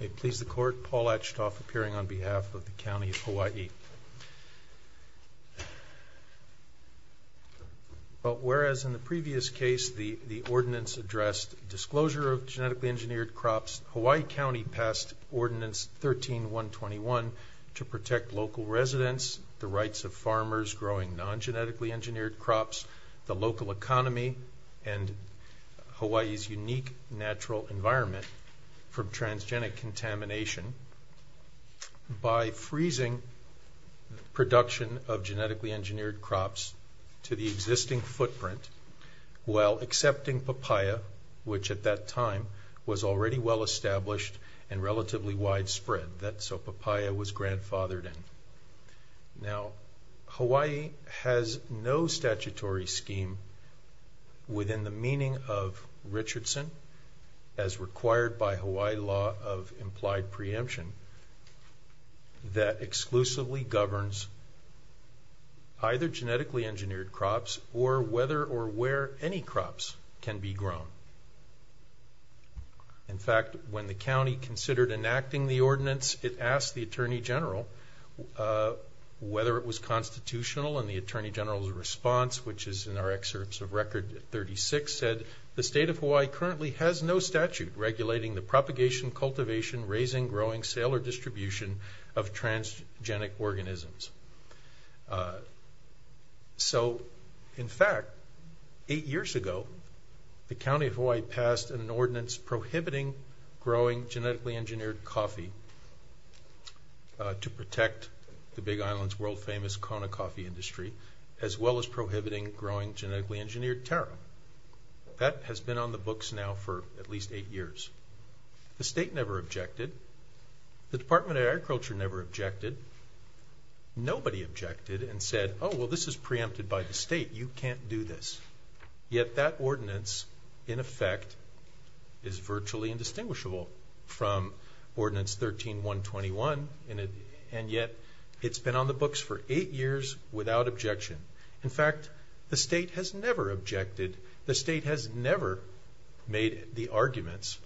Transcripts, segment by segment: It please the Court, Paul Achtoff, appearing on behalf of the County of Hawaii. Whereas in the previous case the ordinance addressed disclosure of genetically engineered crops, Hawaii County passed Ordinance 13-121 to protect local residents, the rights of Hawaii's unique natural environment from transgenic contamination by freezing production of genetically engineered crops to the existing footprint while accepting papaya, which at that time was already well established and relatively widespread, that's what papaya was grandfathered in. Now Hawaii has no statutory scheme within the meaning of Richardson as required by Hawaii Law of Implied Preemption that exclusively governs either genetically engineered crops or whether or where any crops can be grown. In fact, when the county considered enacting the ordinance, it asked the Attorney General whether it was constitutional, and the Attorney General's response, which is in our excerpts of Record 36, said, the State of Hawaii currently has no statute regulating the propagation, cultivation, raising, growing, sale, or distribution of transgenic organisms. So, in fact, eight years ago, the County of Hawaii passed an ordinance prohibiting growing genetically engineered coffee to protect the Big Island's world famous Kona coffee industry as well as prohibiting growing genetically engineered taro. That has been on the books now for at least eight years. The State never objected, the Department of Agriculture never objected, nobody objected and said, oh well this is preempted by the State, you can't do this. Yet that ordinance, in effect, is virtually indistinguishable from Ordinance 13-121, and yet it's been on the books for eight years without objection. In fact, the State has never objected, the State has never made the arguments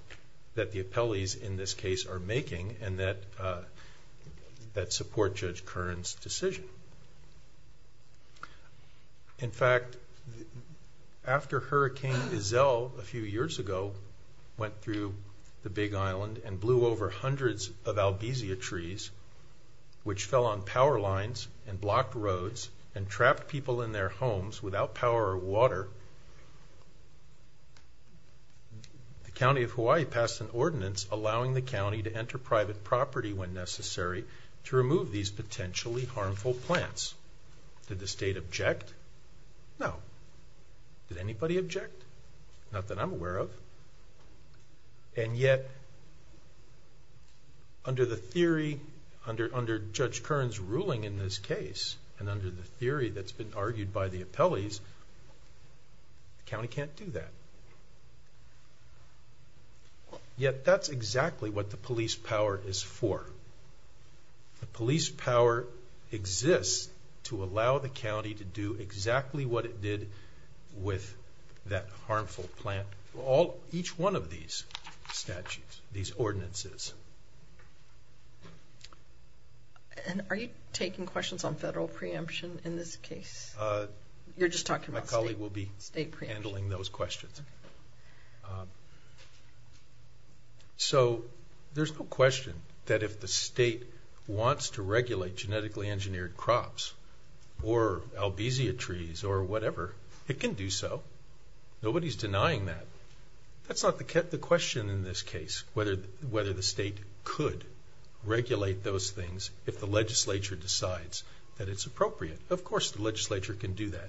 that the appellees in this case are making and that support Judge Kern's decision. In fact, after Hurricane Isel a few years ago went through the Big Island and blew over people in their homes without power or water, the County of Hawaii passed an ordinance allowing the County to enter private property when necessary to remove these potentially harmful plants. Did the State object? No. Did anybody object? Not that I'm aware of. And yet, under the theory, under Judge Kern's ruling in this case, and under the theory that's been argued by the appellees, the County can't do that. Yet that's exactly what the police power is for. The police power exists to allow the County to do exactly what it did with that harmful plant for each one of these statutes, these ordinances. And are you taking questions on federal preemption in this case? You're just talking about State preemption. My colleague will be handling those questions. So there's no question that if the State wants to regulate genetically engineered crops or albizia trees or whatever, it can do so. Nobody's denying that. That's not the question in this case, whether the State could regulate those things if the legislature decides that it's appropriate. Of course the legislature can do that.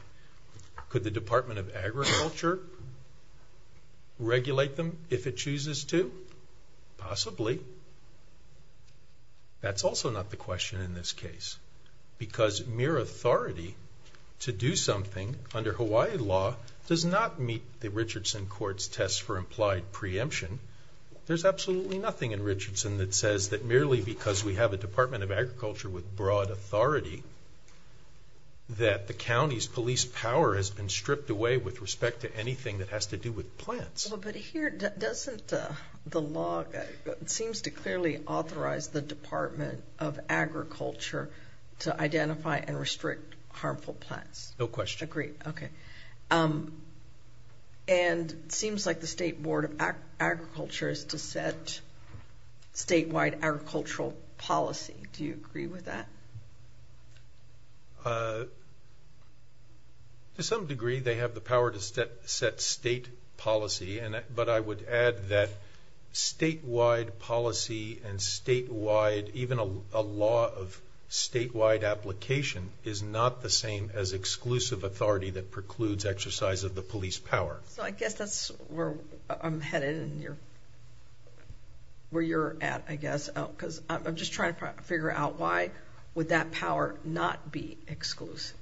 Could the Department of Agriculture regulate them if it chooses to? Possibly. That's also not the question in this case, because mere authority to do something under Richardson Court's test for implied preemption, there's absolutely nothing in Richardson that says that merely because we have a Department of Agriculture with broad authority, that the County's police power has been stripped away with respect to anything that has to do with plants. But here, doesn't the law, it seems to clearly authorize the Department of Agriculture to identify and restrict harmful plants. No question. Agreed. Okay. Okay. Okay. And it seems like the State Board of Agriculture is to set statewide agricultural policy. Do you agree with that? To some degree, they have the power to set state policy, but I would add that statewide policy and statewide, even a law of statewide application, is not the same as exclusive authority that precludes exercise of the police power. So I guess that's where I'm headed and where you're at, I guess, because I'm just trying to figure out why would that power not be exclusive?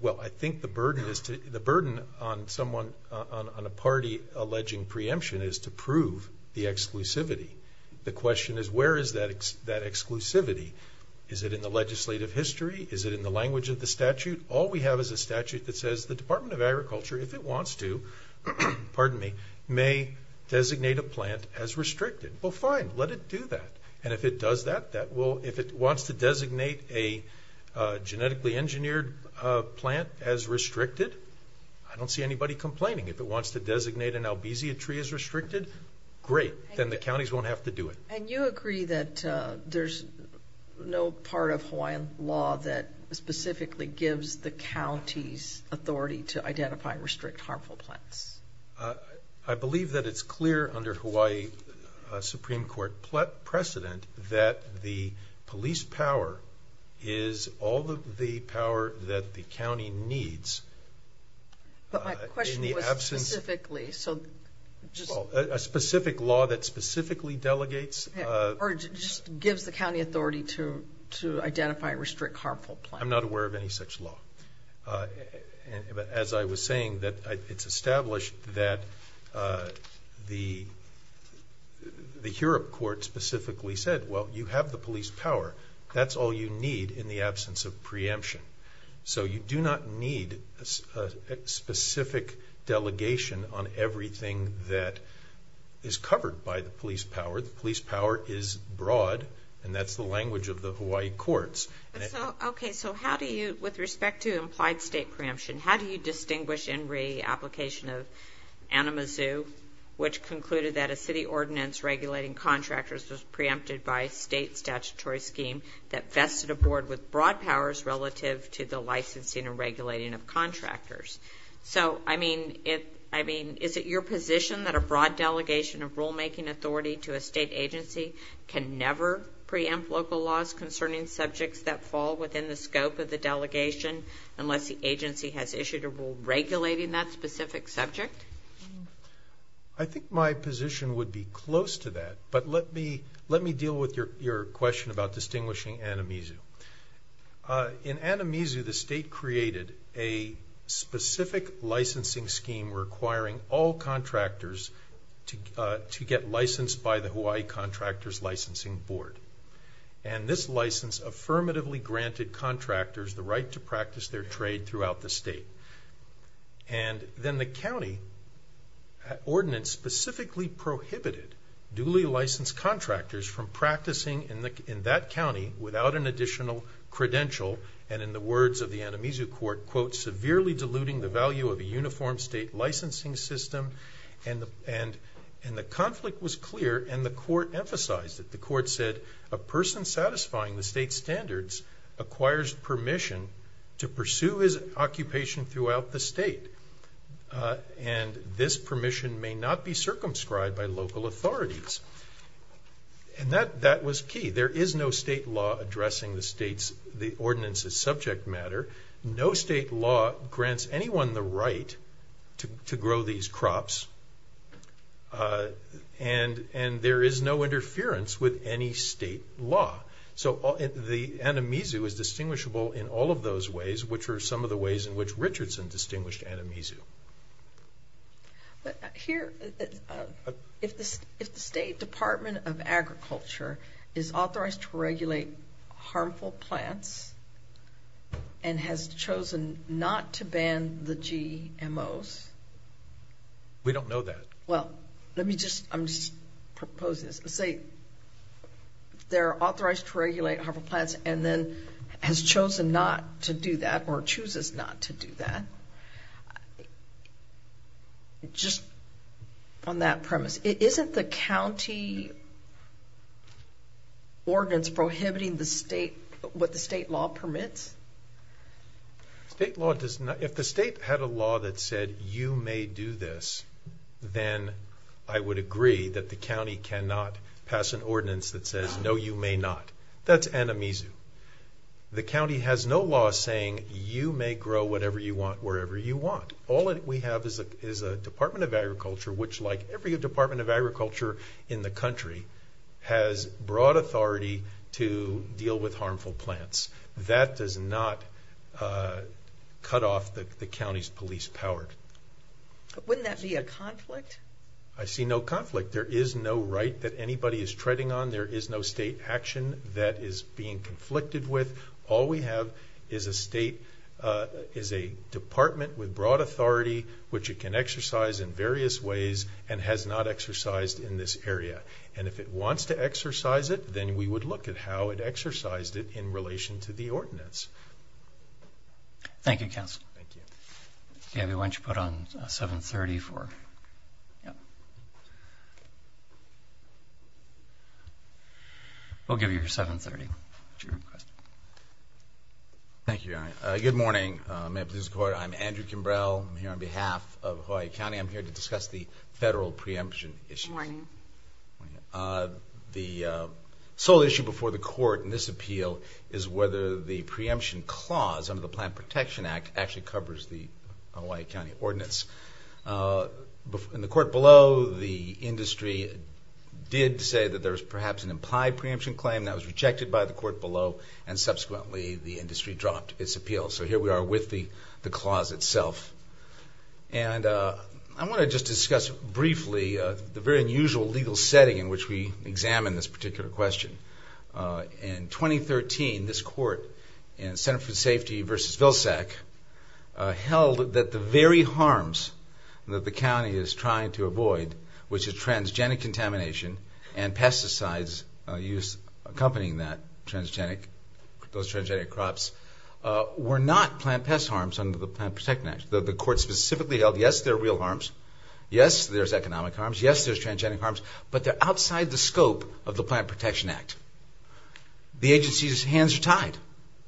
Well, I think the burden on a party alleging preemption is to prove the exclusivity. The question is, where is that exclusivity? Is it in the legislative history? Is it in the language of the statute? All we have is a statute that says the Department of Agriculture, if it wants to, pardon me, may designate a plant as restricted. Well, fine. Let it do that. And if it does that, that will, if it wants to designate a genetically engineered plant as restricted, I don't see anybody complaining. If it wants to designate an albizia tree as restricted, great, then the counties won't have to do it. And you agree that there's no part of Hawaiian law that specifically gives the counties authority to identify and restrict harmful plants? I believe that it's clear under Hawaii Supreme Court precedent that the police power is all the power that the county needs. But my question was specifically, so just... Well, a specific law that specifically delegates... Or just gives the county authority to identify and restrict harmful plants. I'm not aware of any such law. As I was saying, it's established that the Hurop court specifically said, well, you have the police power. That's all you need in the absence of preemption. So you do not need a specific delegation on everything that is covered by the police power. The police power is broad, and that's the language of the Hawaii courts. Okay, so how do you, with respect to implied state preemption, how do you distinguish in re-application of Anamazoo, which concluded that a city ordinance regulating contractors was preempted by a state statutory scheme that vested a board with broad powers relative to the licensing and regulating of contractors? So I mean, is it your position that a broad delegation of rulemaking authority to a state agency can never preempt local laws concerning subjects that fall within the scope of the delegation, unless the agency has issued a rule regulating that specific subject? I think my position would be close to that, but let me deal with your question about distinguishing Anamazoo. In Anamazoo, the state created a specific licensing scheme requiring all contractors to get licensed by the Hawaii Contractors Licensing Board. And this license affirmatively granted contractors the right to practice their trade throughout the state. And then the county ordinance specifically prohibited duly licensed contractors from practicing in that county without an additional credential, and in the words of the Anamazoo court, quote, severely diluting the value of a uniform state licensing system. And the conflict was clear, and the court emphasized it. The court said, a person satisfying the state standards acquires permission to pursue his occupation throughout the state, and this permission may not be circumscribed by local authorities. And that was key. There is no state law addressing the state's, the ordinance's subject matter. No state law grants anyone the right to grow these crops, and there is no interference with any state law. So the Anamazoo is distinguishable in all of those ways, which are some of the ways in which Richardson distinguished Anamazoo. Here, if the state department of agriculture is authorized to regulate harmful plants and has chosen not to ban the GMOs. We don't know that. Well, let me just, I'm just proposing this. Let's say they're authorized to regulate harmful plants and then has chosen not to do that or chooses not to do that. Just on that premise, isn't the county ordinance prohibiting the state, what the state law permits? State law does not, if the state had a law that said you may do this, then I would agree that the county cannot pass an ordinance that says, no, you may not. That's Anamazoo. The county has no law saying you may grow whatever you want, wherever you want. All we have is a department of agriculture, which like every department of agriculture in the country has broad authority to deal with harmful plants. That does not cut off the county's police power. Wouldn't that be a conflict? I see no conflict. There is no right that anybody is treading on. There is no state action that is being conflicted with. All we have is a state, is a department with broad authority, which it can exercise in various ways and has not exercised in this area. And if it wants to exercise it, then we would look at how it exercised it in relation to the ordinance. Thank you, counsel. Thank you. Gabby, why don't you put on 730 for... We'll give you your 730 at your request. Thank you, Your Honor. Good morning. I'm Andrew Kimbrell. I'm here on behalf of Hawaii County. I'm here to discuss the federal preemption issue. The sole issue before the court in this appeal is whether the preemption clause under the Hawaii County Ordinance... In the court below, the industry did say that there was perhaps an implied preemption claim that was rejected by the court below, and subsequently the industry dropped its appeal. So here we are with the clause itself. And I want to just discuss briefly the very unusual legal setting in which we examine this particular question. In 2013, this court in Center for Safety v. Vilsack held that the very harms that the county is trying to avoid, which is transgenic contamination and pesticides use accompanying that transgenic, those transgenic crops, were not plant pest harms under the Plant Protection Act. The court specifically held, yes, there are real harms, yes, there's economic harms, yes, there's transgenic harms, but they're outside the scope of the Plant Protection Act. The agency's hands are tied.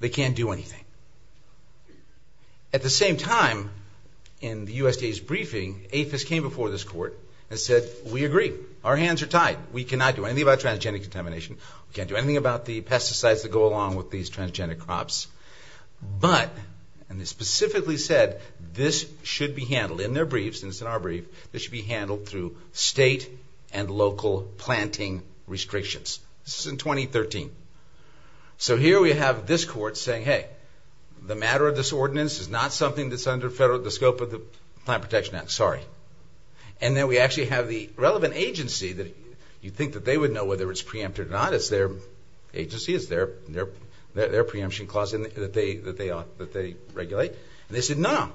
They can't do anything. At the same time, in the USDA's briefing, APHIS came before this court and said, we agree. Our hands are tied. We cannot do anything about transgenic contamination. We can't do anything about the pesticides that go along with these transgenic crops. But, and they specifically said, this should be handled in their briefs, and it's in our briefs. It should be handled through state and local planting restrictions. This is in 2013. So here we have this court saying, hey, the matter of this ordinance is not something that's under the scope of the Plant Protection Act. Sorry. And then we actually have the relevant agency that you'd think that they would know whether it's preempted or not. It's their agency. It's their preemption clause that they regulate. And they said, no, no, no.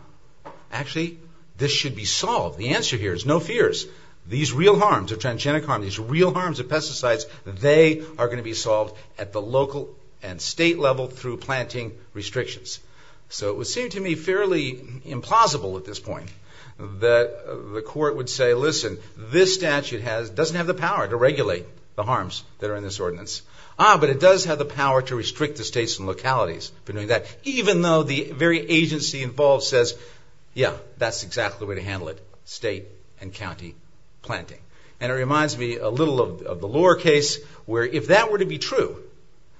Actually, this should be solved. The answer here is no fears. These real harms of transgenic harm, these real harms of pesticides, they are going to be solved at the local and state level through planting restrictions. So it would seem to me fairly implausible at this point that the court would say, listen, this statute doesn't have the power to regulate the harms that are in this ordinance. Ah, but it does have the power to restrict the states and localities for doing that, even though the very agency involved says, yeah, that's exactly the way to handle it, state and county planting. And it reminds me a little of the Lohr case, where if that were to be true,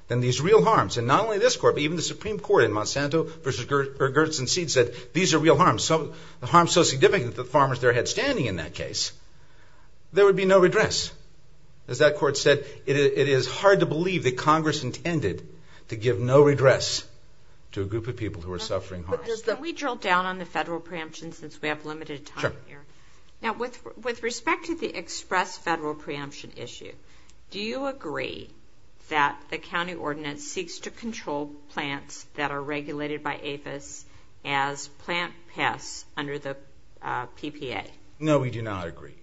then these real harms, and not only this court, but even the Supreme Court in Monsanto v. Gertz and Seed said, these are real harms, harms so significant that the farmers there had standing in that case, there would be no redress. As that court said, it is hard to believe that Congress intended to give no redress to a group of people who are suffering harms. Can we drill down on the federal preemption since we have limited time here? Sure. Now with respect to the express federal preemption issue, do you agree that the county ordinance seeks to control plants that are regulated by APHIS as plant pests under the PPA? No, we do not agree.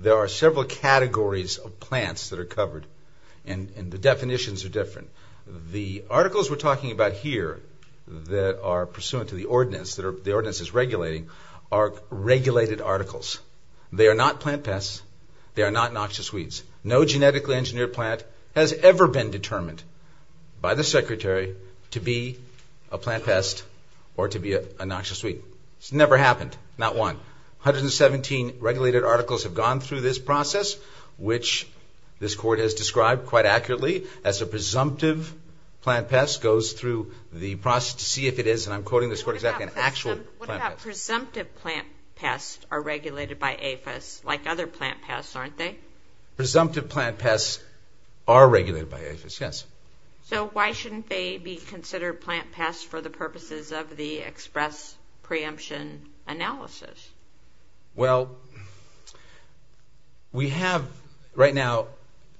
There are several categories of plants that are covered, and the definitions are different. The articles we're talking about here that are pursuant to the ordinance, that the ordinance is regulating, are regulated articles. They are not plant pests. They are not noxious weeds. No genetically engineered plant has ever been determined by the Secretary to be a plant pest or to be a noxious weed. It's never happened. Not one. 117 regulated articles have gone through this process, which this court has described quite accurately as a presumptive plant pest goes through the process to see if it is, and I'm quoting this court exactly, an actual plant pest. What about presumptive plant pests are regulated by APHIS like other plant pests, aren't they? Presumptive plant pests are regulated by APHIS, yes. So why shouldn't they be considered plant pests for the purposes of the express preemption analysis? Well, we have right now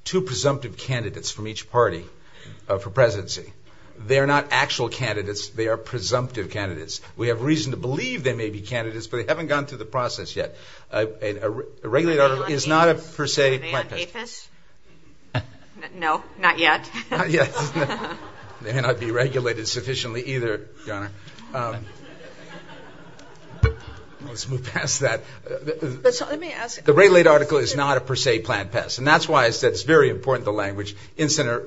two presumptive candidates from each party for presidency. They're not actual candidates. They are presumptive candidates. We have reason to believe they may be candidates, but they haven't gone through the process yet. A regulated article is not a per se plant pest. Are they on APHIS? No, not yet. Not yet. They may not be regulated sufficiently either, Your Honor. Let's move past that. The regulated article is not a per se plant pest, and that's why I said it's very important the language in Sydney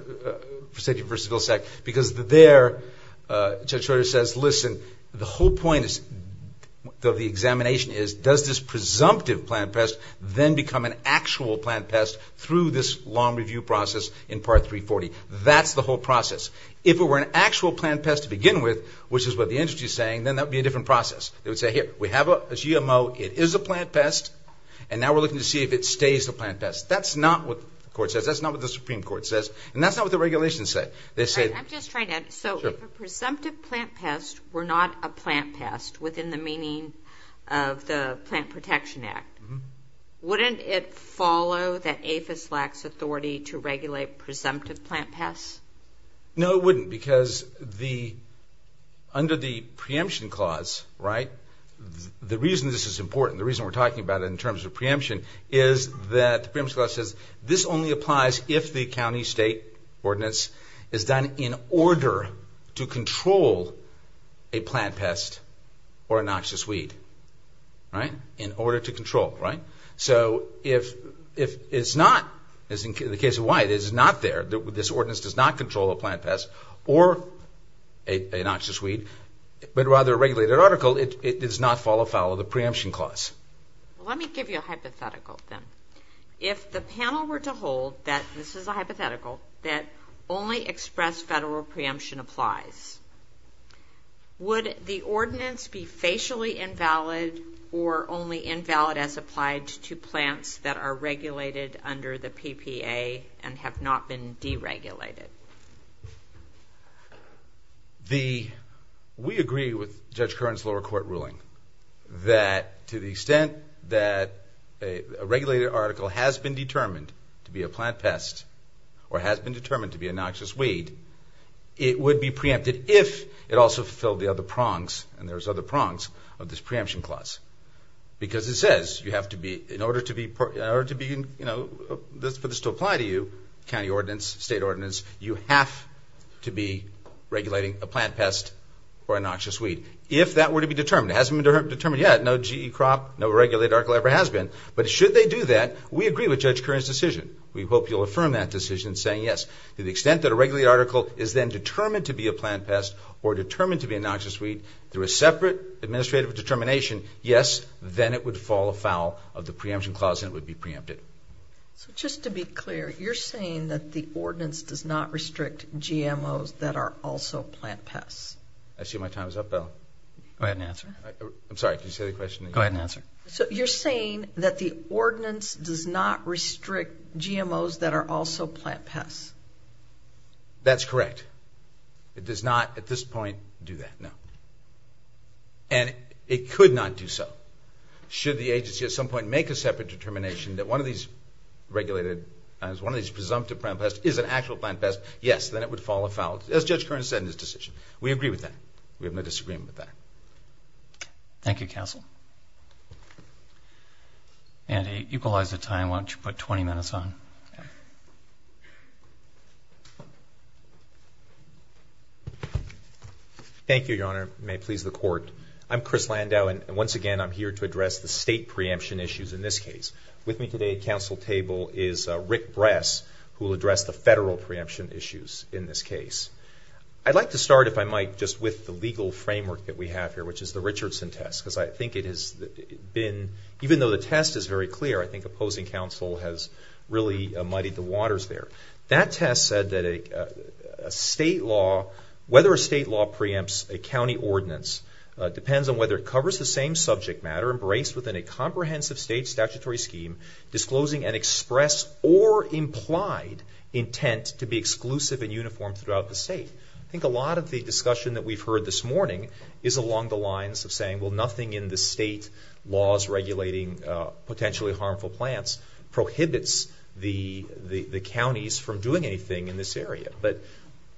vs. Vilsack, because there Judge Schroeder says, listen, the whole point of the examination is does this presumptive plant pest then become an actual plant pest through this long review process in Part 340? That's the whole process. If it were an actual plant pest to begin with, which is what the entity is saying, then that would be a different process. They would say, here, we have a GMO. It is a plant pest, and now we're looking to see if it stays a plant pest. That's not what the Supreme Court says, and that's not what the regulations say. They say- I'm just trying to- Sure. So if a presumptive plant pest were not a plant pest within the meaning of the Plant Protection Act, wouldn't it follow that APHIS lacks authority to regulate presumptive plant pests? No, it wouldn't, because under the preemption clause, the reason this is important, the reason we're talking about it in terms of preemption is that the preemption clause says this only applies if the county state ordinance is done in order to control a plant pest or in order to control, right? So if it's not, as in the case of Wyatt, it's not there, this ordinance does not control a plant pest or an oxidous weed, but rather a regulated article, it does not follow the preemption clause. Well, let me give you a hypothetical, then. If the panel were to hold that this is a hypothetical, that only express federal preemption applies, would the ordinance be facially invalid or only invalid as applied to plants that are regulated under the PPA and have not been deregulated? We agree with Judge Curran's lower court ruling that to the extent that a regulated article has been determined to be a plant pest or has been determined to be an oxidous weed, it would be preempted if it also fulfilled the other prongs, and there's other prongs, of this preemption clause. Because it says you have to be, in order to be, you know, for this to apply to you, county ordinance, state ordinance, you have to be regulating a plant pest or an oxidous weed. If that were to be determined, it hasn't been determined yet, no GE crop, no regulated article ever has been, but should they do that, we agree with Judge Curran's decision. We hope you'll affirm that decision saying yes. To the extent that a regulated article is then determined to be a plant pest or determined to be an oxidous weed, through a separate administrative determination, yes, then it would fall afoul of the preemption clause and it would be preempted. So just to be clear, you're saying that the ordinance does not restrict GMOs that are also plant pests? I see my time is up, Ellen. Go ahead and answer. I'm sorry, can you say the question again? Go ahead and answer. So you're saying that the ordinance does not restrict GMOs that are also plant pests? That's correct. It does not, at this point, do that, no. And it could not do so. Should the agency at some point make a separate determination that one of these regulated items, one of these presumptive plant pests is an actual plant pest, yes, then it would fall afoul, as Judge Curran said in his decision. We agree with that. We have no disagreement with that. Thank you, counsel. Andy, equalize the time, why don't you put 20 minutes on? Thank you, Your Honor. May it please the Court. I'm Chris Landau, and once again, I'm here to address the state preemption issues in this case. With me today at counsel table is Rick Bress, who will address the federal preemption issues in this case. I'd like to start, if I might, just with the legal framework that we have here, which is the Richardson test, because I think it has been, even though the test is very clear, I think opposing counsel has really muddied the waters there. That test said that a state law, whether a state law preempts a county ordinance depends on whether it covers the same subject matter embraced within a comprehensive state statutory scheme disclosing an express or implied intent to be exclusive and uniform throughout the state. I think a lot of the discussion that we've heard this morning is along the lines of saying, well, nothing in the state laws regulating potentially harmful plants prohibits the counties from doing anything in this area. But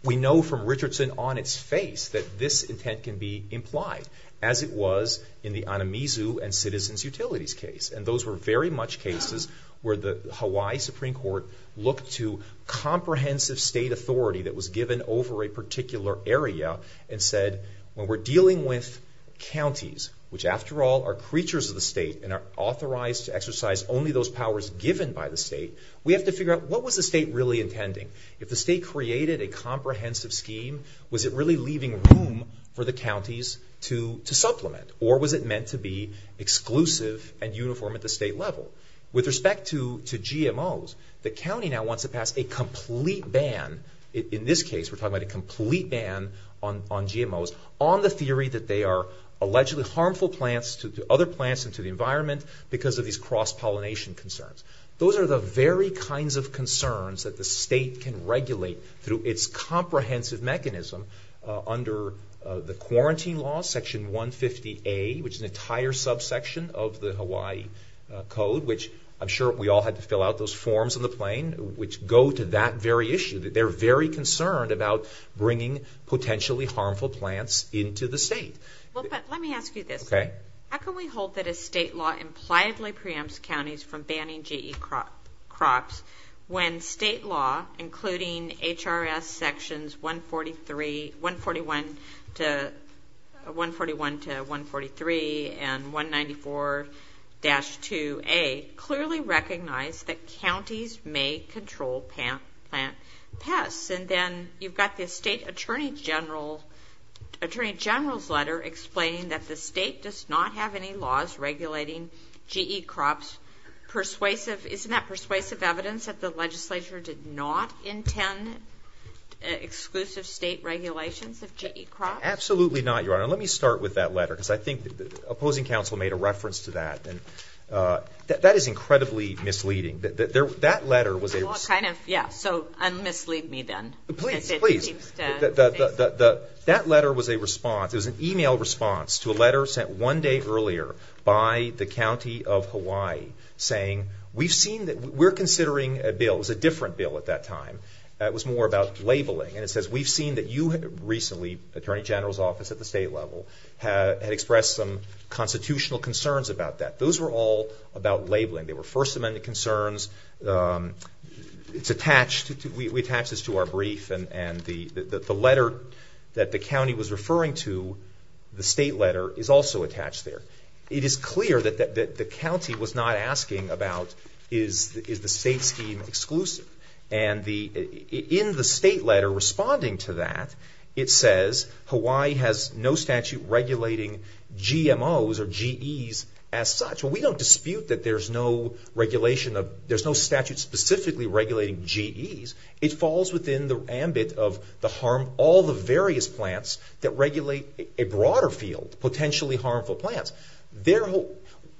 we know from Richardson on its face that this intent can be implied, as it was in the Anamizu and Citizens Utilities case. And those were very much cases where the Hawaii Supreme Court looked to comprehensive state authority that was given over a particular area and said, when we're dealing with counties, which, after all, are creatures of the state and are authorized to exercise only those powers given by the state, we have to figure out what was the state really intending. If the state created a comprehensive scheme, was it really leaving room for the counties to supplement, or was it meant to be exclusive and uniform at the state level? With respect to GMOs, the county now wants to pass a complete ban. In this case, we're talking about a complete ban on GMOs on the theory that they are allegedly harmful plants to other plants and to the environment because of these cross-pollination concerns. Those are the very kinds of concerns that the state can regulate through its comprehensive mechanism under the quarantine law, Section 150A, which is an entire subsection of the law, which I'm sure we all had to fill out those forms on the plane, which go to that very issue. They're very concerned about bringing potentially harmful plants into the state. But let me ask you this. How can we hold that a state law impliedly preempts counties from banning GE crops when state law, including HRS Sections 141 to 143 and 194-2A, clearly recognize that counties may control plant pests? And then you've got the state attorney general's letter explaining that the state does not have any laws regulating GE crops. Isn't that persuasive evidence that the legislature did not intend exclusive state regulations of GE crops? Absolutely not, Your Honor. And let me start with that letter because I think the opposing counsel made a reference to that. And that is incredibly misleading. That letter was a response. Kind of. Yeah. So un-mislead me then. Please, please. That letter was a response. It was an email response to a letter sent one day earlier by the county of Hawaii saying, we've seen that we're considering a bill. It was a different bill at that time. It was more about labeling. And it says, we've seen that you recently, attorney general's office at the state level, had expressed some constitutional concerns about that. Those were all about labeling. They were First Amendment concerns. It's attached. We attach this to our brief. And the letter that the county was referring to, the state letter, is also attached there. It is clear that the county was not asking about is the state scheme exclusive. And in the state letter responding to that, it says, Hawaii has no statute regulating GMOs or GEs as such. So we don't dispute that there's no regulation of, there's no statute specifically regulating GEs. It falls within the ambit of the harm, all the various plants that regulate a broader field, potentially harmful plants.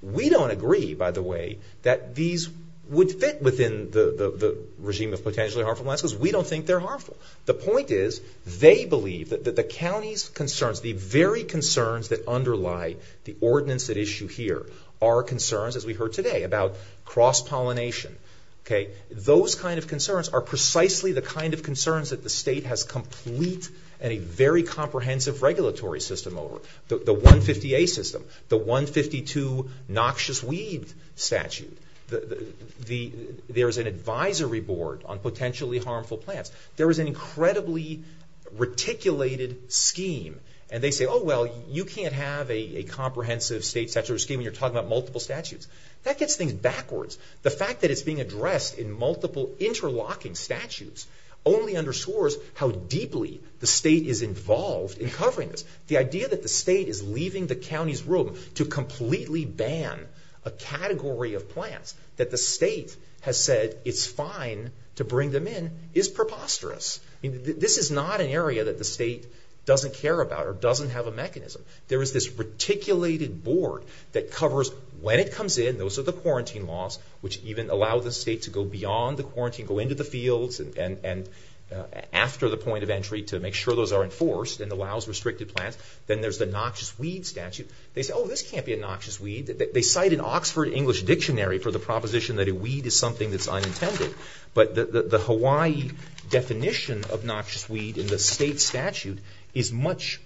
We don't agree, by the way, that these would fit within the regime of potentially harmful plants because we don't think they're harmful. The point is, they believe that the county's concerns, the very concerns that underlie the ordinance at issue here are concerns, as we heard today, about cross-pollination. Those kind of concerns are precisely the kind of concerns that the state has complete and a very comprehensive regulatory system over. The 150A system, the 152 noxious weed statute. There's an advisory board on potentially harmful plants. There is an incredibly reticulated scheme. And they say, oh, well, you can't have a comprehensive state statutory scheme when you're talking about multiple statutes. That gets things backwards. The fact that it's being addressed in multiple interlocking statutes only underscores how deeply the state is involved in covering this. The idea that the state is leaving the county's room to completely ban a category of plants that the state has said it's fine to bring them in is preposterous. This is not an area that the state doesn't care about or doesn't have a mechanism. There is this reticulated board that covers when it comes in. Those are the quarantine laws, which even allow the state to go beyond the quarantine, go into the fields and after the point of entry to make sure those are enforced and allows restricted plants. Then there's the noxious weed statute. They say, oh, this can't be a noxious weed. They cite an Oxford English Dictionary for the proposition that a weed is something that's unintended. But the Hawaii definition of noxious weed in the state statute is much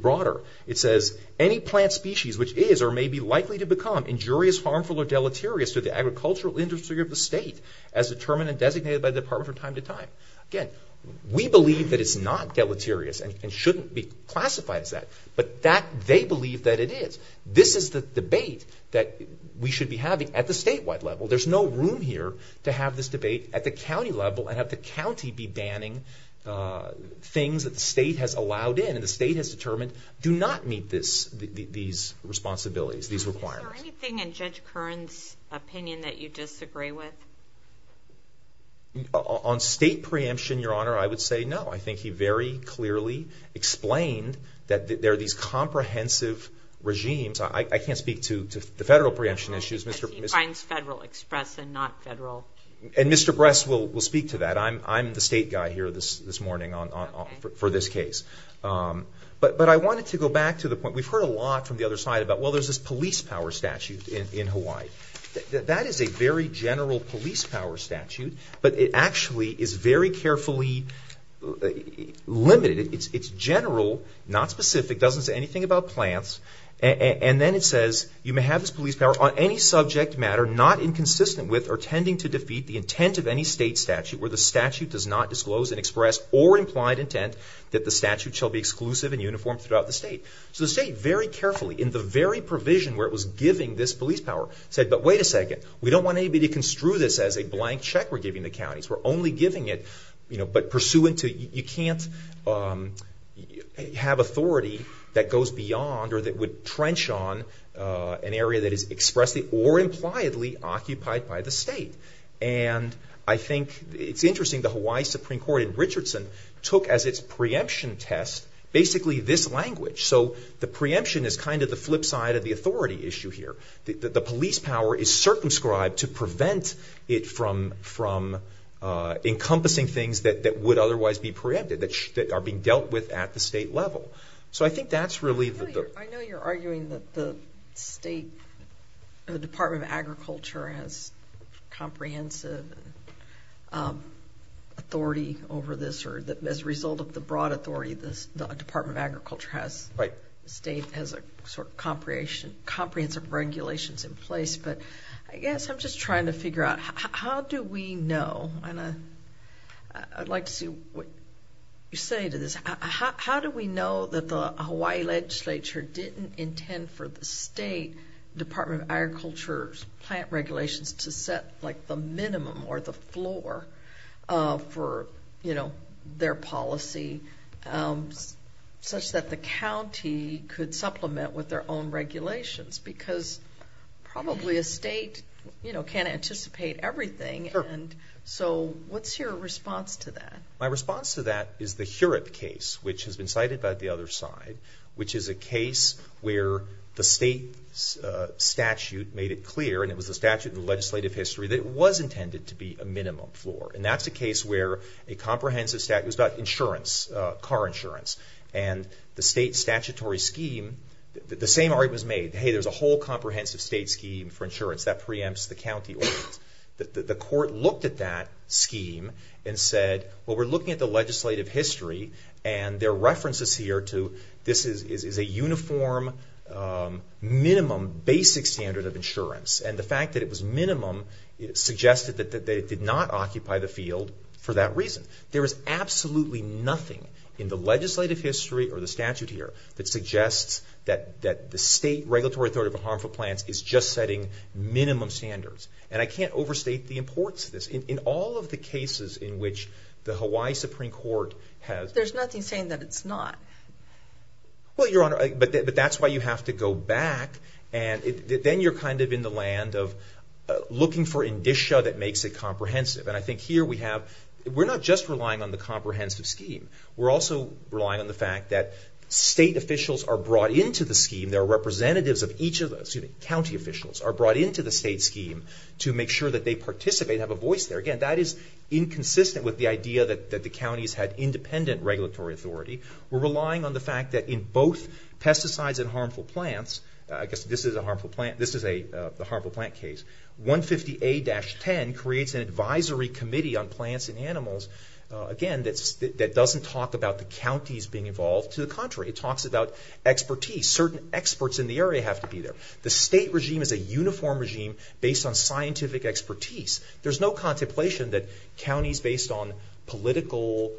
broader. It says, any plant species which is or may be likely to become injurious, harmful, or deleterious to the agricultural industry of the state as determined and designated by the Department from time to time. Again, we believe that it's not deleterious and shouldn't be classified as that. But they believe that it is. This is the debate that we should be having at the statewide level. There's no room here to have this debate at the county level and have the county be banning things that the state has allowed in and the state has determined do not meet these responsibilities, these requirements. Is there anything in Judge Curran's opinion that you disagree with? On state preemption, Your Honor, I would say no. I think he very clearly explained that there are these comprehensive regimes. I can't speak to the federal preemption issues. Because he finds federal express and not federal. And Mr. Bress will speak to that. I'm the state guy here this morning for this case. But I wanted to go back to the point. We've heard a lot from the other side about, well, there's this police power statute in Hawaii. That is a very general police power statute, but it actually is very carefully limited. It's general, not specific, doesn't say anything about plants. And then it says, you may have this police power on any subject matter not inconsistent with or tending to defeat the intent of any state statute where the statute does not disclose an expressed or implied intent that the statute shall be exclusive and uniform throughout the state. So the state very carefully, in the very provision where it was giving this police power, said, but wait a second, we don't want anybody to construe this as a blank check we're giving the counties. We're only giving it, you know, but pursuant to you can't have authority that goes beyond or that would trench on an area that is expressly or impliedly occupied by the state. And I think it's interesting the Hawaii Supreme Court in Richardson took as its preemption test basically this language. So the preemption is kind of the flip side of the authority issue here. The police power is circumscribed to prevent it from encompassing things that would otherwise be preempted, that are being dealt with at the state level. So I think that's really the... I know you're arguing that the state, the Department of Agriculture has comprehensive authority over this or that as a result of the broad authority the Department of Agriculture has, the state has a sort of comprehensive regulations in place. But I guess I'm just trying to figure out how do we know, and I'd like to see what you say to this, how do we know that the Hawaii legislature didn't intend for the state Department of Agriculture's plant regulations to set like the minimum or the floor for, you know, their policy such that the county could supplement with their own regulations because probably a state, you know, can't anticipate everything. And so what's your response to that? My response to that is the Hurip case, which has been cited by the other side, which is a case where the state statute made it clear, and it was a statute in the legislative history, that it was intended to be a minimum floor. And that's a case where a comprehensive statute, it was about insurance, car insurance, and the state statutory scheme, the same argument was made, hey, there's a whole comprehensive state scheme for insurance that preempts the county ordinance. The court looked at that scheme and said, well, we're looking at the legislative history, and there are references here to this is a uniform minimum basic standard of insurance. And the fact that it was minimum suggested that it did not occupy the field for that reason. There is absolutely nothing in the legislative history or the statute here that suggests that the state regulatory authority for harmful plants is just setting minimum standards. And I can't overstate the importance of this. In all of the cases in which the Hawaii Supreme Court has- There's nothing saying that it's not. Well, Your Honor, but that's why you have to go back, and then you're kind of in the land of looking for indicia that makes it comprehensive. And I think here we have, we're not just relying on the comprehensive scheme. We're also relying on the fact that state officials are brought into the scheme, there are representatives of each of the county officials are brought into the state scheme to make sure that they participate and have a voice there. Again, that is inconsistent with the idea that the counties had independent regulatory authority. We're relying on the fact that in both pesticides and harmful plants, I guess this is the harmful plant case, 150A-10 creates an advisory committee on plants and animals, again, that doesn't talk about the counties being involved. To the contrary, it talks about expertise. Certain experts in the area have to be there. The state regime is a uniform regime based on scientific expertise. There's no contemplation that counties based on political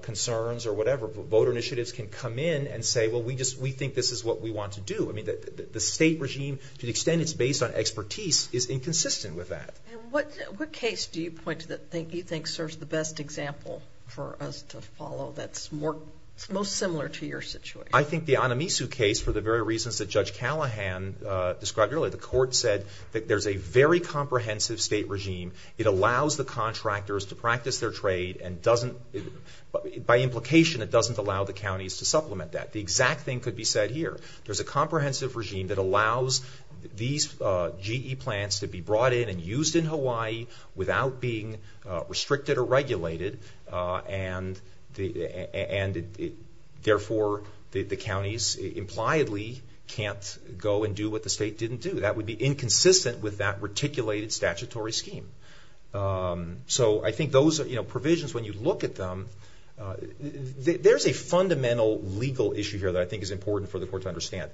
concerns or whatever, voter initiatives, can come in and say, well, we think this is what we want to do. I mean, the state regime, to the extent it's based on expertise, is inconsistent with that. And what case do you point to that you think serves the best example for us to follow that's most similar to your situation? I think the Anamisu case, for the very reasons that Judge Callahan described earlier, the court said that there's a very comprehensive state regime. It allows the contractors to practice their trade and doesn't, by implication, it doesn't allow the counties to supplement that. The exact thing could be said here. There's a comprehensive regime that allows these GE plants to be brought in and used in Hawaii without being restricted or regulated, and therefore the counties impliedly can't go and do what the state didn't do. That would be inconsistent with that reticulated statutory scheme. So I think those provisions, when you look at them, there's a fundamental legal issue here that I think is important for the court to understand.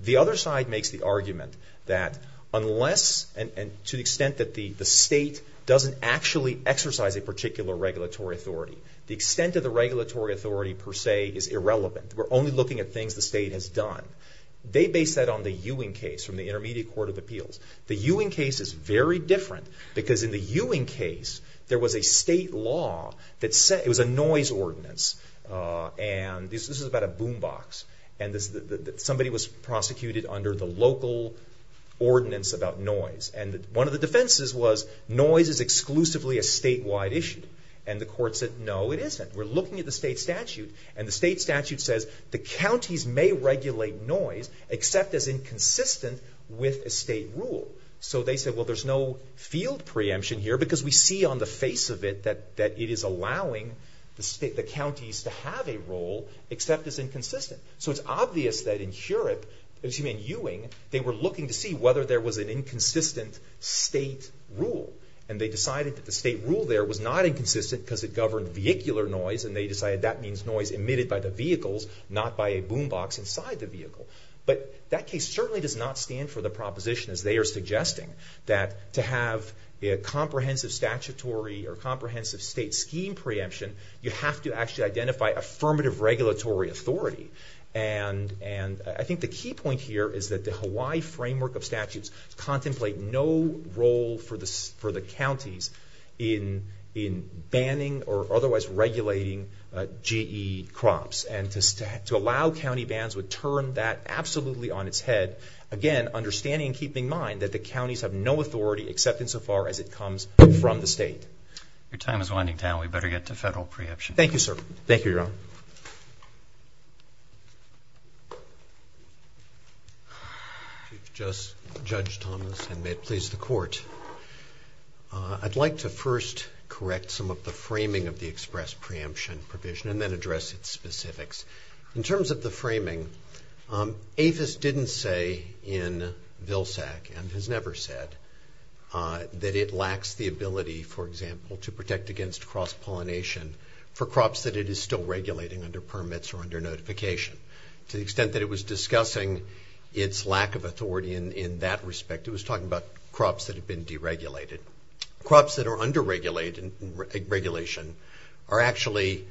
The other side makes the argument that unless, and to the extent that the state doesn't actually exercise a particular regulatory authority, the extent of the regulatory authority per se is irrelevant. We're only looking at things the state has done. They base that on the Ewing case from the Intermediate Court of Appeals. The Ewing case is very different because in the Ewing case, there was a state law that said, it was a noise ordinance, and this is about a boom box, and somebody was prosecuted under the local ordinance about noise. And one of the defenses was, noise is exclusively a statewide issue. And the court said, no, it isn't. We're looking at the state statute, and the state statute says, the counties may regulate noise except as inconsistent with a state rule. So they said, well, there's no field preemption here because we see on the face of it that it is allowing the counties to have a role except as inconsistent. So it's obvious that in Heurop, excuse me, in Ewing, they were looking to see whether there was an inconsistent state rule. And they decided that the state rule there was not inconsistent because it governed vehicular noise, and they decided that means noise emitted by the vehicles, not by a boom box inside the vehicle. But that case certainly does not stand for the proposition, as they are suggesting, that to have a comprehensive statutory or comprehensive state scheme preemption, you have to actually identify affirmative regulatory authority. And I think the key point here is that the Hawaii framework of statutes contemplate no role for the counties in banning or otherwise regulating GE crops. And to allow county bans would turn that absolutely on its head. Again, understanding and keeping in mind that the counties have no authority except insofar as it comes from the state. Your time is winding down. We'd better get to federal preemption. Thank you, sir. Thank you, Your Honor. Chief Justice, Judge Thomas, and may it please the Court, I'd like to first correct some of the framing of the express preemption provision and then address its specifics. In terms of the framing, APHIS didn't say in Vilsack and has never said that it lacks the ability, for example, to protect against cross-pollination for crops that it is still regulating under permits or under notification. To the extent that it was discussing its lack of authority in that respect, it was talking about crops that have been deregulated. Crops that are under regulation are actually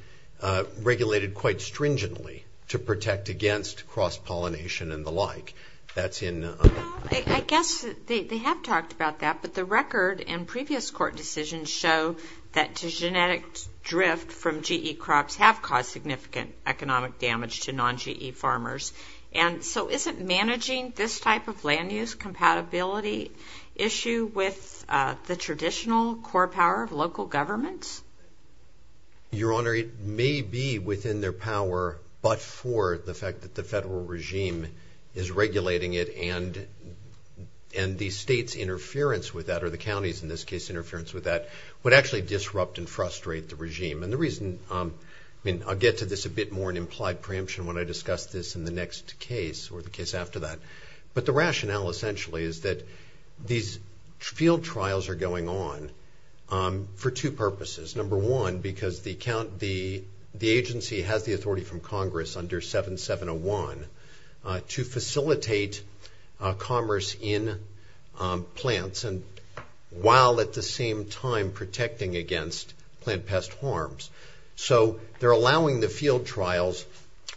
regulated quite stringently to protect against cross-pollination and the like. I guess they have talked about that, but the record in previous court decisions show that genetic drift from GE crops have caused significant economic damage to non-GE farmers. Isn't managing this type of land-use compatibility issue with the traditional core power of local governments? Your Honor, it may be within their power, but for the fact that the federal regime is regulating it and the state's interference with that, or the county's, in this case, interference with that, would actually disrupt and frustrate the regime. I'll get to this a bit more in implied preemption when I discuss this in the next case or the case after that. But the rationale essentially is that these field trials are going on for two purposes. Number one, because the agency has the authority from Congress under 7701 to facilitate commerce in plants while at the same time protecting against plant pest harms. So they're allowing the field trials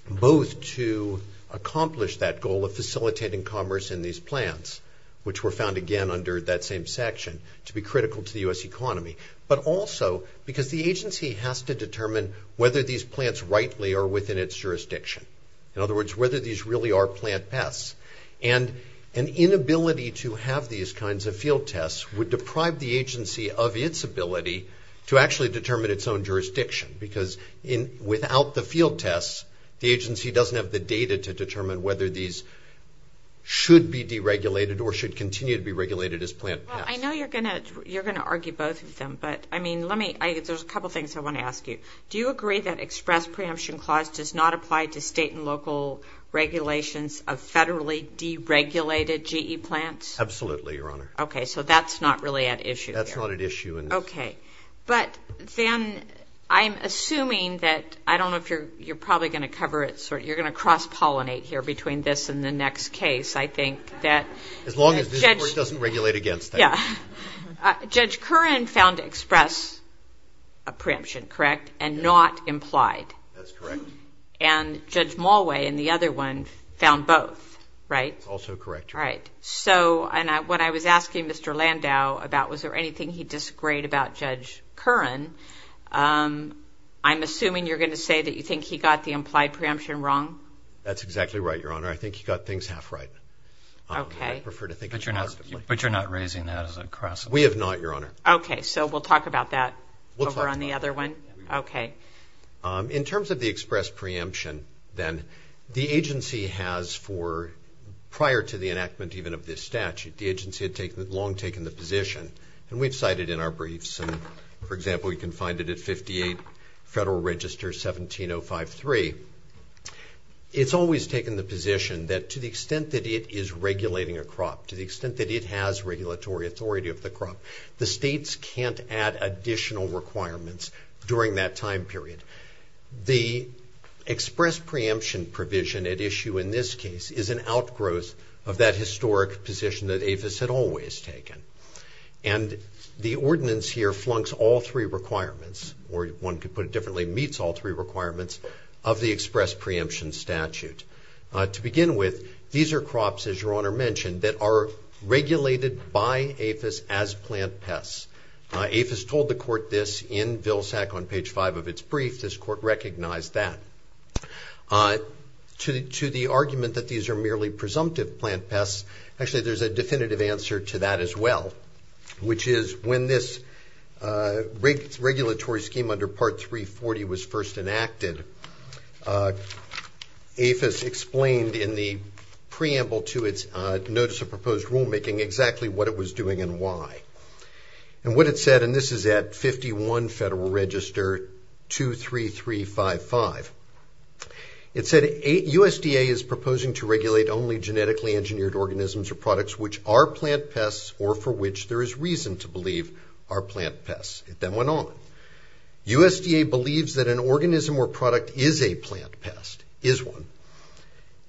both to accomplish that goal of facilitating commerce in these plants, which were found again under that same section, to be critical to the U.S. economy, but also because the agency has to determine whether these plants rightly are within its jurisdiction. In other words, whether these really are plant pests. And an inability to have these kinds of field tests would deprive the agency of its ability to actually determine its own jurisdiction because without the field tests, the agency doesn't have the data to determine whether these should be deregulated or should continue to be regulated as plant pests. Well, I know you're going to argue both of them, but there's a couple things I want to ask you. Do you agree that express preemption clause does not apply to state and local regulations of federally deregulated GE plants? Absolutely, Your Honor. Okay, so that's not really at issue here. That's not at issue. Okay. But then I'm assuming that I don't know if you're probably going to cover it. You're going to cross-pollinate here between this and the next case, I think. As long as this Court doesn't regulate against that. Judge Curran found express preemption correct and not implied. That's correct. And Judge Mulway in the other one found both, right? That's also correct, Your Honor. All right. So when I was asking Mr. Landau about was there anything he disagreed about Judge Curran, I'm assuming you're going to say that you think he got the implied preemption wrong? That's exactly right, Your Honor. I think he got things half right. Okay. I prefer to think positively. But you're not raising that as a cross-pollination? We have not, Your Honor. Okay, so we'll talk about that over on the other one? We'll talk about it. Okay. In terms of the express preemption, then, the agency has for prior to the enactment even of this statute, the agency had long taken the position, and we've cited in our briefs, and, for example, you can find it at 58 Federal Register 17053. It's always taken the position that to the extent that it is regulating a crop, to the extent that it has regulatory authority of the crop, the states can't add additional requirements during that time period. The express preemption provision at issue in this case is an outgrowth of that historic position that APHIS had always taken. And the ordinance here flunks all three requirements, or one could put it differently, meets all three requirements of the express preemption statute. To begin with, these are crops, as Your Honor mentioned, that are regulated by APHIS as plant pests. APHIS told the court this in Vilsack on page 5 of its brief. This court recognized that. To the argument that these are merely presumptive plant pests, actually, there's a definitive answer to that as well, which is when this regulatory scheme under Part 340 was first enacted, APHIS explained in the preamble to its notice of proposed rulemaking exactly what it was doing and why. And what it said, and this is at 51 Federal Register 23355, it said USDA is proposing to regulate only genetically engineered organisms or products which are plant pests or for which there is reason to believe are plant pests. It then went on, USDA believes that an organism or product is a plant pest, is one,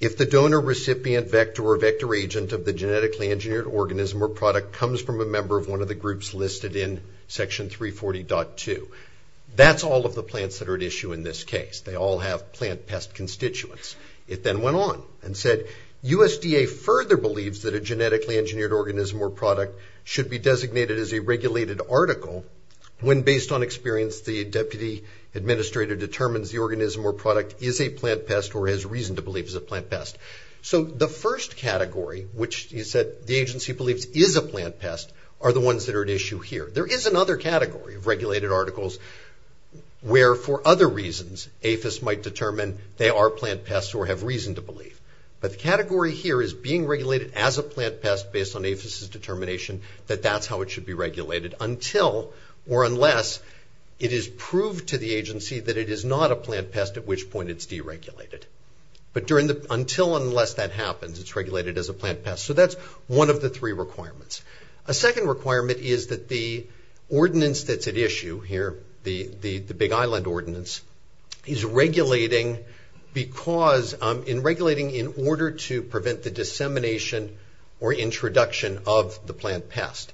if the donor recipient vector or vector agent of the genetically engineered organism or product comes from a member of one of the groups listed in Section 340.2. That's all of the plants that are at issue in this case. They all have plant pest constituents. It then went on and said, USDA further believes that a genetically engineered organism or product should be designated as a regulated article when, based on experience, the deputy administrator determines the organism or product is a plant pest or has reason to believe is a plant pest. So the first category, which the agency believes is a plant pest, are the ones that are at issue here. There is another category of regulated articles where, for other reasons, APHIS might determine they are plant pests or have reason to believe. But the category here is being regulated as a plant pest based on APHIS' determination that that's how it should be regulated until or unless it is proved to the agency that it is not a plant pest, at which point it's deregulated. But until and unless that happens, it's regulated as a plant pest. So that's one of the three requirements. A second requirement is that the ordinance that's at issue here, the Big Island Ordinance, is regulating in order to prevent the dissemination or introduction of the plant pest.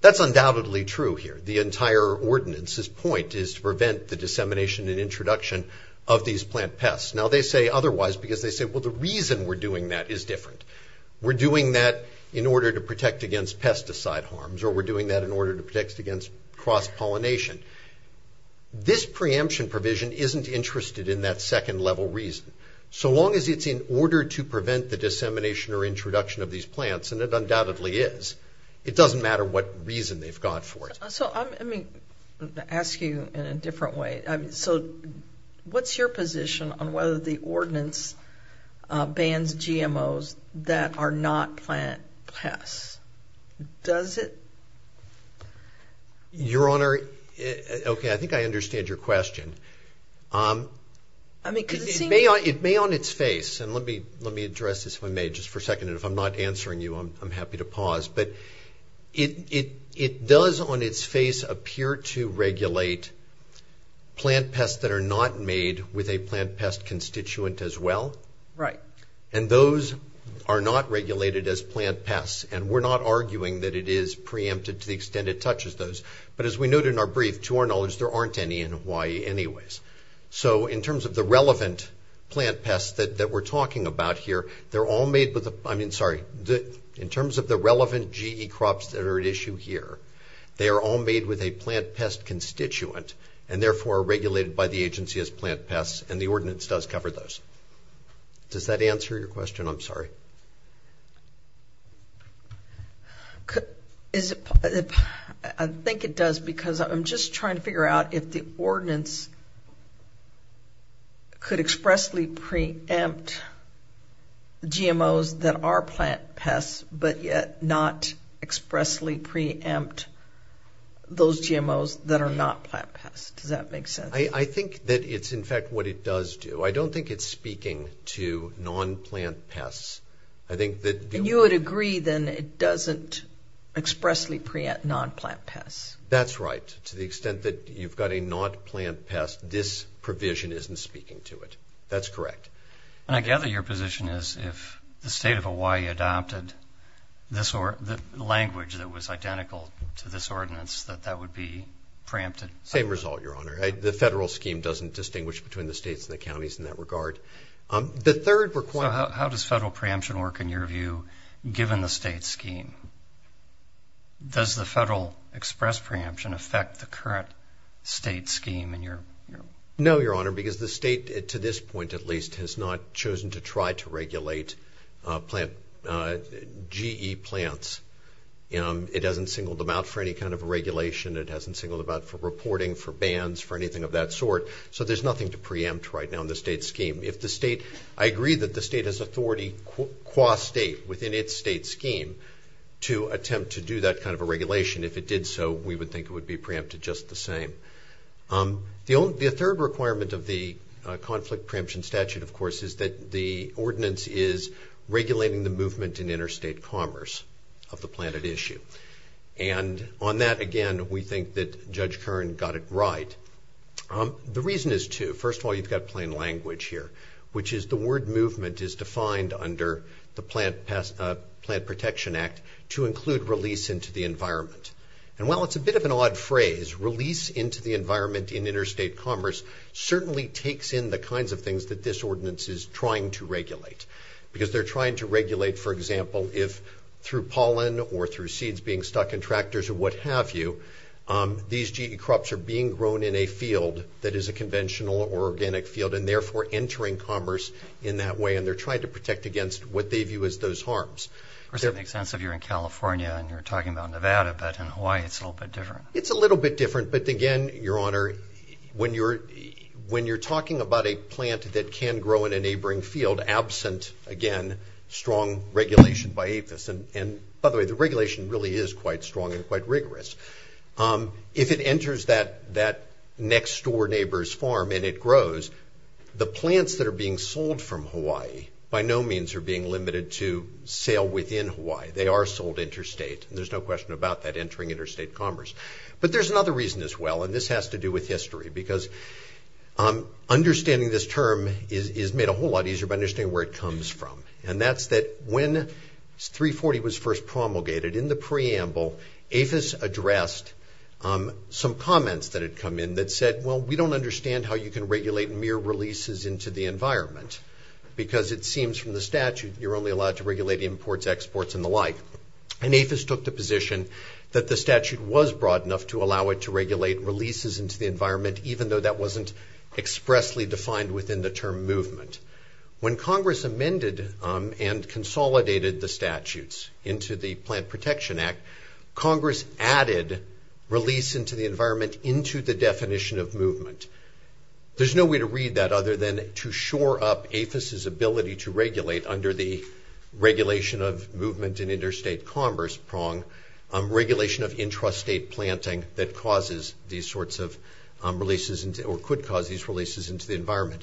That's undoubtedly true here. The entire ordinance's point is to prevent the dissemination and introduction of these plant pests. Now they say otherwise because they say, well, the reason we're doing that is different. We're doing that in order to protect against pesticide harms, or we're doing that in order to protect against cross-pollination. This preemption provision isn't interested in that second level reason. So long as it's in order to prevent the dissemination or introduction of these plants, and it undoubtedly is, it doesn't matter what reason they've got for it. So let me ask you in a different way. So what's your position on whether the ordinance bans GMOs that are not plant pests? Does it? Your Honor, okay, I think I understand your question. It may on its face, and let me address this if I may just for a second, and if I'm not answering you, I'm happy to pause. But it does on its face appear to regulate plant pests that are not made with a plant pest constituent as well. Right. And those are not regulated as plant pests. And we're not arguing that it is preempted to the extent it touches those. But as we note in our brief, to our knowledge, there aren't any in Hawaii anyways. So in terms of the relevant plant pests that we're talking about here, they're all made with the, I mean, sorry, in terms of the relevant GE crops that are at issue here, they are all made with a plant pest constituent and therefore are regulated by the agency as plant pests, and the ordinance does cover those. Does that answer your question? I'm sorry. I think it does because I'm just trying to figure out if the ordinance could expressly preempt GMOs that are plant pests but yet not expressly preempt those GMOs that are not plant pests. Does that make sense? I think that it's in fact what it does do. I don't think it's speaking to non-plant pests. And you would agree then it doesn't expressly preempt non-plant pests. That's right. To the extent that you've got a non-plant pest, this provision isn't speaking to it. That's correct. And I gather your position is if the state of Hawaii adopted the language that was identical to this ordinance, Same result, Your Honor. the federal scheme doesn't distinguish between the states and the counties in that regard. The third requirement So how does federal preemption work in your view given the state scheme? Does the federal express preemption affect the current state scheme in your view? No, Your Honor, because the state to this point at least has not chosen to try to regulate GE plants. It hasn't singled them out for any kind of regulation. It hasn't singled them out for reporting, for bans, for anything of that sort. So there's nothing to preempt right now in the state scheme. I agree that the state has authority qua state within its state scheme to attempt to do that kind of a regulation. If it did so, we would think it would be preempted just the same. The third requirement of the conflict preemption statute, of course, is that the ordinance is regulating the movement in interstate commerce of the planted issue. And on that, again, we think that Judge Kern got it right. The reason is two. First of all, you've got plain language here, which is the word movement is defined under the Plant Protection Act to include release into the environment. And while it's a bit of an odd phrase, release into the environment in interstate commerce certainly takes in the kinds of things that this ordinance is trying to regulate. Because they're trying to regulate, for example, if through pollen or through seeds being stuck in tractors or what have you, these crops are being grown in a field that is a conventional or organic field and therefore entering commerce in that way. And they're trying to protect against what they view as those harms. Of course, it makes sense if you're in California and you're talking about Nevada. But in Hawaii, it's a little bit different. It's a little bit different. But again, Your Honor, when you're talking about a plant that can grow in a neighboring field, absent, again, strong regulation by APHIS. And by the way, the regulation really is quite strong and quite rigorous. If it enters that next door neighbor's farm and it grows, the plants that are being sold from Hawaii by no means are being limited to sale within Hawaii. They are sold interstate. There's no question about that entering interstate commerce. But there's another reason as well, and this has to do with history. Because understanding this term is made a whole lot easier by understanding where it comes from. And that's that when 340 was first promulgated, in the preamble, APHIS addressed some comments that had come in that said, well, we don't understand how you can regulate mere releases into the environment. Because it seems from the statute you're only allowed to regulate imports, exports, and the like. And APHIS took the position that the statute was broad enough to allow it to regulate releases into the environment, even though that wasn't expressly defined within the term movement. When Congress amended and consolidated the statutes into the Plant Protection Act, Congress added release into the environment into the definition of movement. There's no way to read that other than to shore up APHIS's ability to regulate under the regulation of movement in interstate commerce prong, regulation of intrastate planting that causes these sorts of releases or could cause these releases into the environment.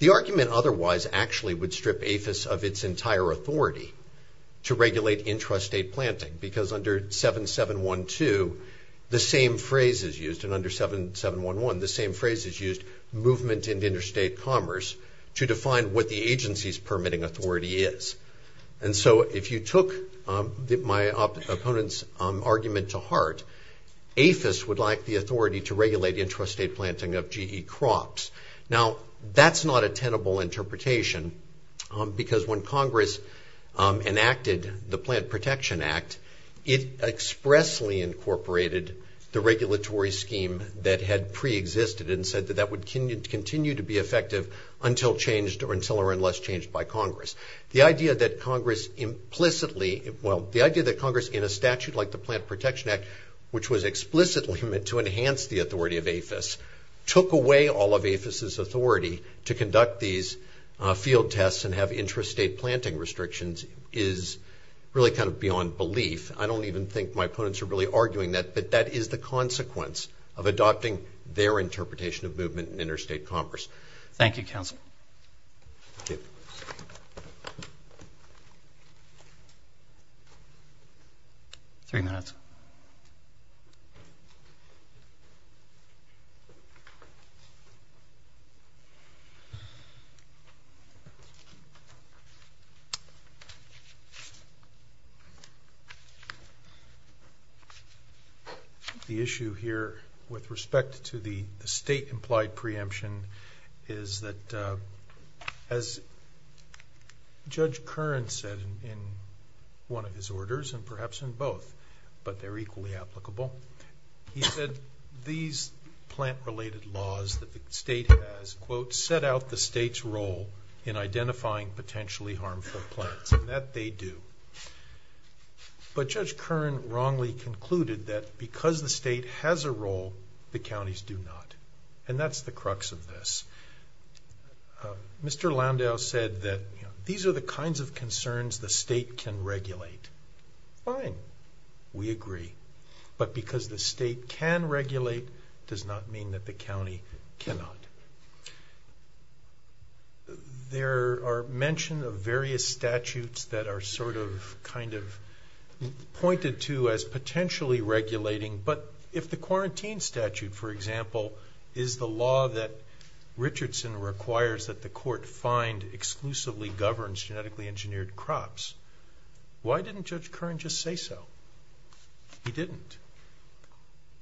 The argument otherwise actually would strip APHIS of its entire authority to regulate intrastate planting. Because under 7.7.1.2, the same phrase is used. And under 7.7.1.1, the same phrase is used, movement in interstate commerce, to define what the agency's permitting authority is. And so if you took my opponent's argument to heart, APHIS would like the authority to regulate intrastate planting of GE crops. Now, that's not a tenable interpretation because when Congress enacted the Plant Protection Act, it expressly incorporated the regulatory scheme that had preexisted and said that that would continue to be effective until changed or until or unless changed by Congress. The idea that Congress implicitly, well, the idea that Congress in a statute like the Plant Protection Act, which was explicitly meant to enhance the authority of APHIS, took away all of APHIS's authority to conduct these field tests and have intrastate planting restrictions is really kind of beyond belief. I don't even think my opponents are really arguing that, but that is the consequence of adopting their interpretation of movement in interstate commerce. Thank you, Counsel. Thank you. Thank you. Three minutes. The issue here with respect to the state-implied preemption is that as Judge Curran said in one of his orders, and perhaps in both, but they're equally applicable, he said these plant-related laws that the state has, quote, set out the state's role in identifying potentially harmful plants, and that they do. But Judge Curran wrongly concluded that because the state has a role, the counties do not. And that's the crux of this. Mr. Loundow said that these are the kinds of concerns the state can regulate. Fine. We agree. But because the state can regulate does not mean that the county cannot. There are mention of various statutes that are sort of kind of pointed to as potentially regulating, but if the quarantine statute, for example, is the law that Richardson requires that the court find exclusively governs genetically engineered crops, why didn't Judge Curran just say so? He didn't.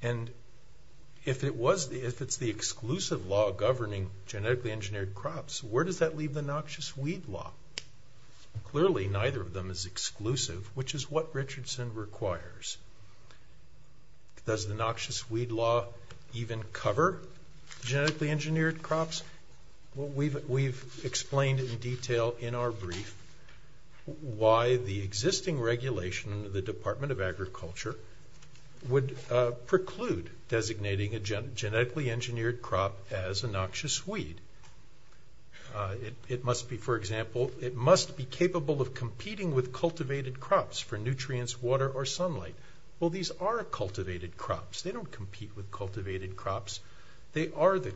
And if it's the exclusive law governing genetically engineered crops, where does that leave the noxious weed law? Clearly neither of them is exclusive, which is what Richardson requires. Does the noxious weed law even cover genetically engineered crops? We've explained in detail in our brief why the existing regulation of the Department of Agriculture would preclude designating a genetically engineered crop as a noxious weed. It must be, for example, it must be capable of competing with cultivated crops for nutrients, water, or sunlight. Well, these are cultivated crops. They don't compete with cultivated crops. They are the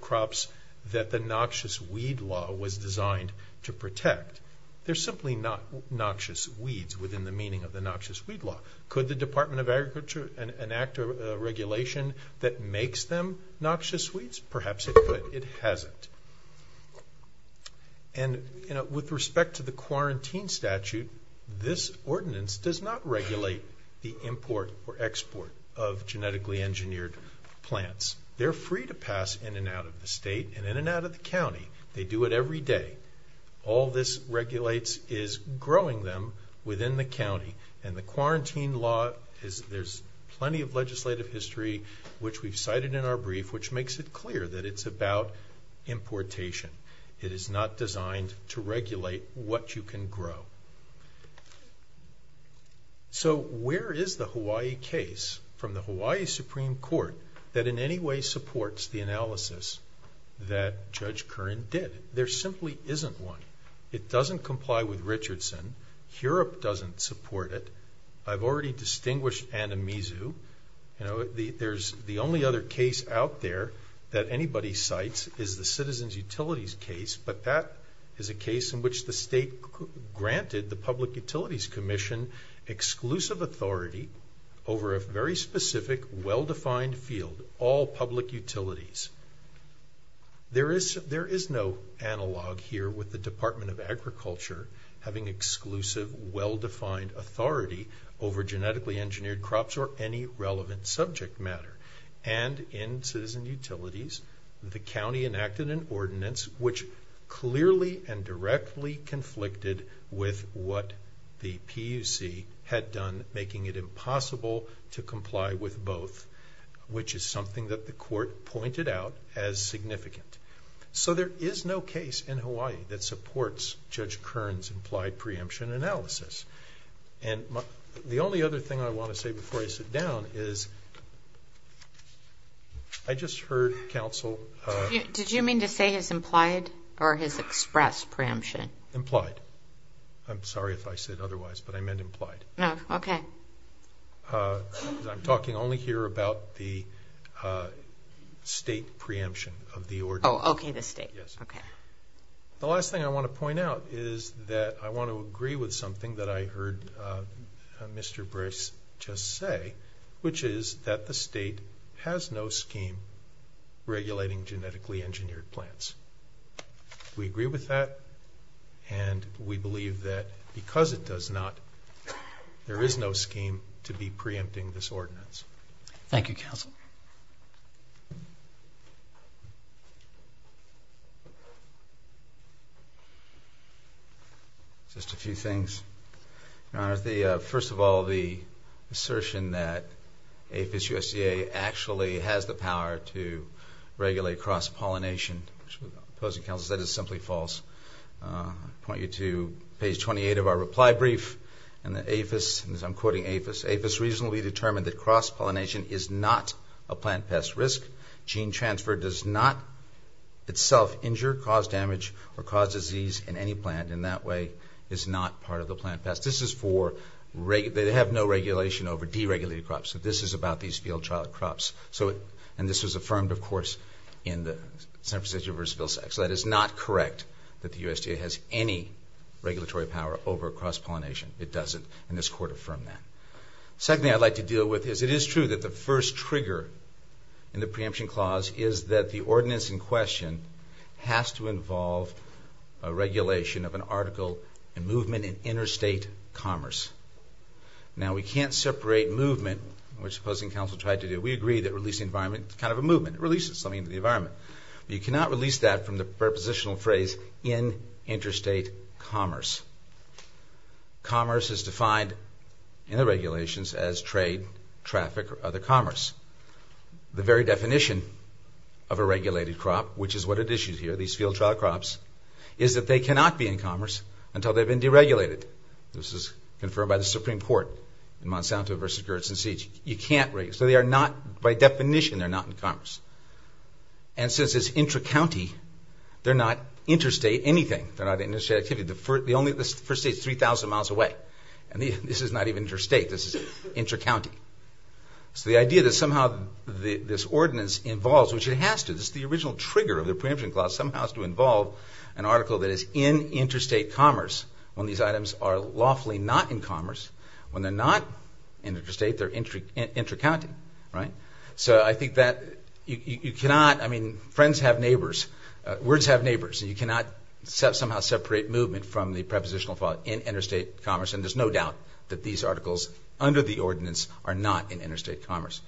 crops that the noxious weed law was designed to protect. They're simply not noxious weeds within the meaning of the noxious weed law. Could the Department of Agriculture enact a regulation that makes them noxious weeds? Perhaps it could. It hasn't. And with respect to the quarantine statute, this ordinance does not regulate the import or export of genetically engineered plants. They're free to pass in and out of the state and in and out of the county. They do it every day. All this regulates is growing them within the county. And the quarantine law, there's plenty of legislative history, which we've cited in our brief, which makes it clear that it's about importation. It is not designed to regulate what you can grow. So where is the Hawaii case from the Hawaii Supreme Court that in any way supports the analysis that Judge Curran did? There simply isn't one. It doesn't comply with Richardson. HURUP doesn't support it. I've already distinguished Anamizu. There's the only other case out there that anybody cites is the Citizens Utilities case, but that is a case in which the state granted the Public Utilities Commission exclusive authority over a very specific, well-defined field, all public utilities. There is no analog here with the Department of Agriculture having exclusive, well-defined authority over genetically engineered crops or any relevant subject matter. And in Citizen Utilities, the county enacted an ordinance, which clearly and directly conflicted with what the PUC had done, making it impossible to comply with both, which is something that the court pointed out as significant. So there is no case in Hawaii that supports Judge Curran's implied preemption analysis. And the only other thing I want to say before I sit down is I just heard counsel. Did you mean to say his implied or his expressed preemption? Implied. I'm sorry if I said otherwise, but I meant implied. Okay. I'm talking only here about the state preemption of the ordinance. Oh, okay, the state. Yes. Okay. The last thing I want to point out is that I want to agree with something that I heard Mr. Brice just say, which is that the state has no scheme regulating genetically engineered plants. We agree with that, and we believe that because it does not, there is no scheme to be preempting this ordinance. Thank you, counsel. Just a few things. First of all, the assertion that APHIS-USDA actually has the power to regulate cross-pollination, which the opposing counsel said is simply false. I point you to page 28 of our reply brief, and APHIS, as I'm quoting APHIS, APHIS reasonably determined that cross-pollination is not a plant pest risk. Gene transfer does not itself injure, cause damage, or cause disease in any plant, and that way is not part of the plant pest. This is for, they have no regulation over deregulated crops. So this is about these field trial crops. So, and this was affirmed, of course, in the Senate Procedure v. Vilsack. So that is not correct that the USDA has any regulatory power over cross-pollination. It doesn't, and this court affirmed that. The second thing I'd like to deal with is it is true that the first trigger in the preemption clause is that the ordinance in question has to involve a regulation of an article in movement in interstate commerce. Now we can't separate movement, which the opposing counsel tried to do. We agree that releasing environment is kind of a movement. It releases something into the environment. But you cannot release that from the prepositional phrase in interstate commerce. Commerce is defined in the regulations as trade, traffic, or other commerce. The very definition of a regulated crop, which is what it issues here, these field trial crops, is that they cannot be in commerce until they've been deregulated. This is confirmed by the Supreme Court in Monsanto v. Gertz and Siege. So they are not, by definition, they're not in commerce. And since it's intra-county, they're not interstate anything. They're not interstate activity. The first state is 3,000 miles away, and this is not even interstate. This is intra-county. So the idea that somehow this ordinance involves, which it has to, this is the original trigger of the preemption clause, somehow has to involve an article that is in interstate commerce when these items are lawfully not in commerce. When they're not interstate, they're intra-county, right? So I think that you cannot, I mean, friends have neighbors, words have neighbors, and you cannot somehow separate movement from the prepositional clause in interstate commerce, and there's no doubt that these articles under the ordinance are not in interstate commerce.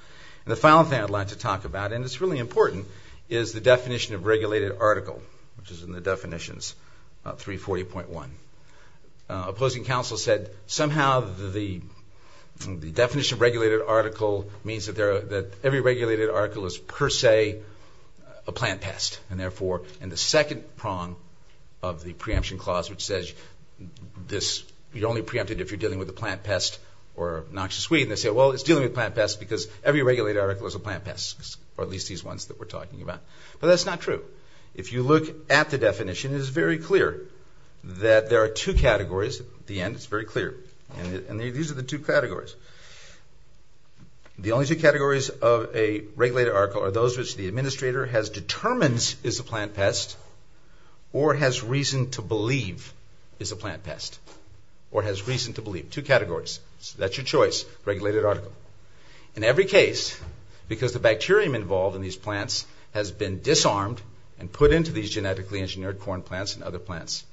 And the final thing I'd like to talk about, and it's really important, is the definition of regulated article, which is in the definitions, 340.1. Opposing counsel said somehow the definition of regulated article means that every regulated article is per se a plant pest, and therefore in the second prong of the preemption clause which says you're only preempted if you're dealing with a plant pest or noxious weed, and they say, well, it's dealing with plant pests because every regulated article is a plant pest, or at least these ones that we're talking about. But that's not true. If you look at the definition, it is very clear that there are two categories. At the end, it's very clear. And these are the two categories. The only two categories of a regulated article are those which the administrator has determined is a plant pest or has reason to believe is a plant pest or has reason to believe. Two categories. So that's your choice, regulated article. In every case, because the bacterium involved in these plants has been disarmed and put into these genetically engineered corn plants and other plants,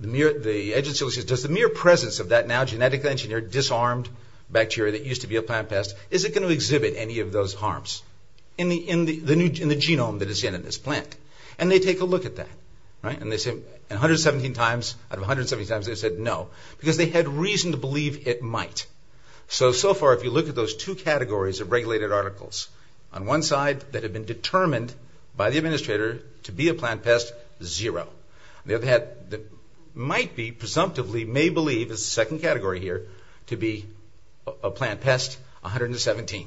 the agency says, does the mere presence of that now genetically engineered disarmed bacteria that used to be a plant pest, is it going to exhibit any of those harms in the genome that is in this plant? And they take a look at that. And out of 117 times they said no, because they had reason to believe it might. So, so far, if you look at those two categories of regulated articles, on one side that have been determined by the administrator to be a plant pest, zero. On the other hand, that might be, presumptively, may believe, is the second category here, to be a plant pest, 117.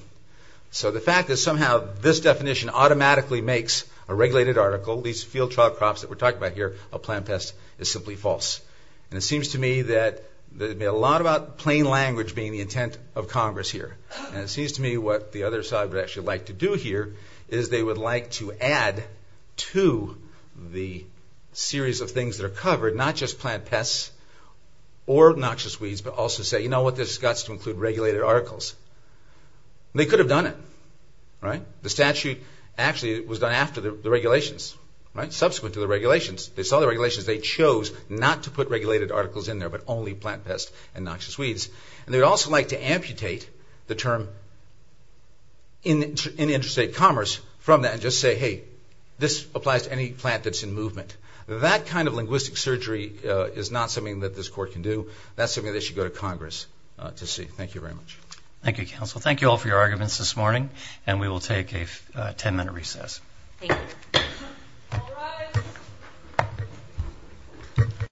So the fact that somehow this definition automatically makes a regulated article, at least field trial crops that we're talking about here, a plant pest, is simply false. And it seems to me that there's a lot about plain language being the intent of Congress here. And it seems to me what the other side would actually like to do here is they would like to add to the series of things that are covered, not just plant pests or noxious weeds, but also say, you know what, this has got to include regulated articles. They could have done it, right? The statute actually was done after the regulations, right? Subsequent to the regulations. They saw the regulations. They chose not to put regulated articles in there, but only plant pests and noxious weeds. And they would also like to amputate the term in interstate commerce from that and just say, hey, this applies to any plant that's in movement. That kind of linguistic surgery is not something that this court can do. That's something they should go to Congress to see. Thank you very much. Thank you, counsel. Thank you all for your arguments this morning. And we will take a ten-minute recess. Thank you. All rise.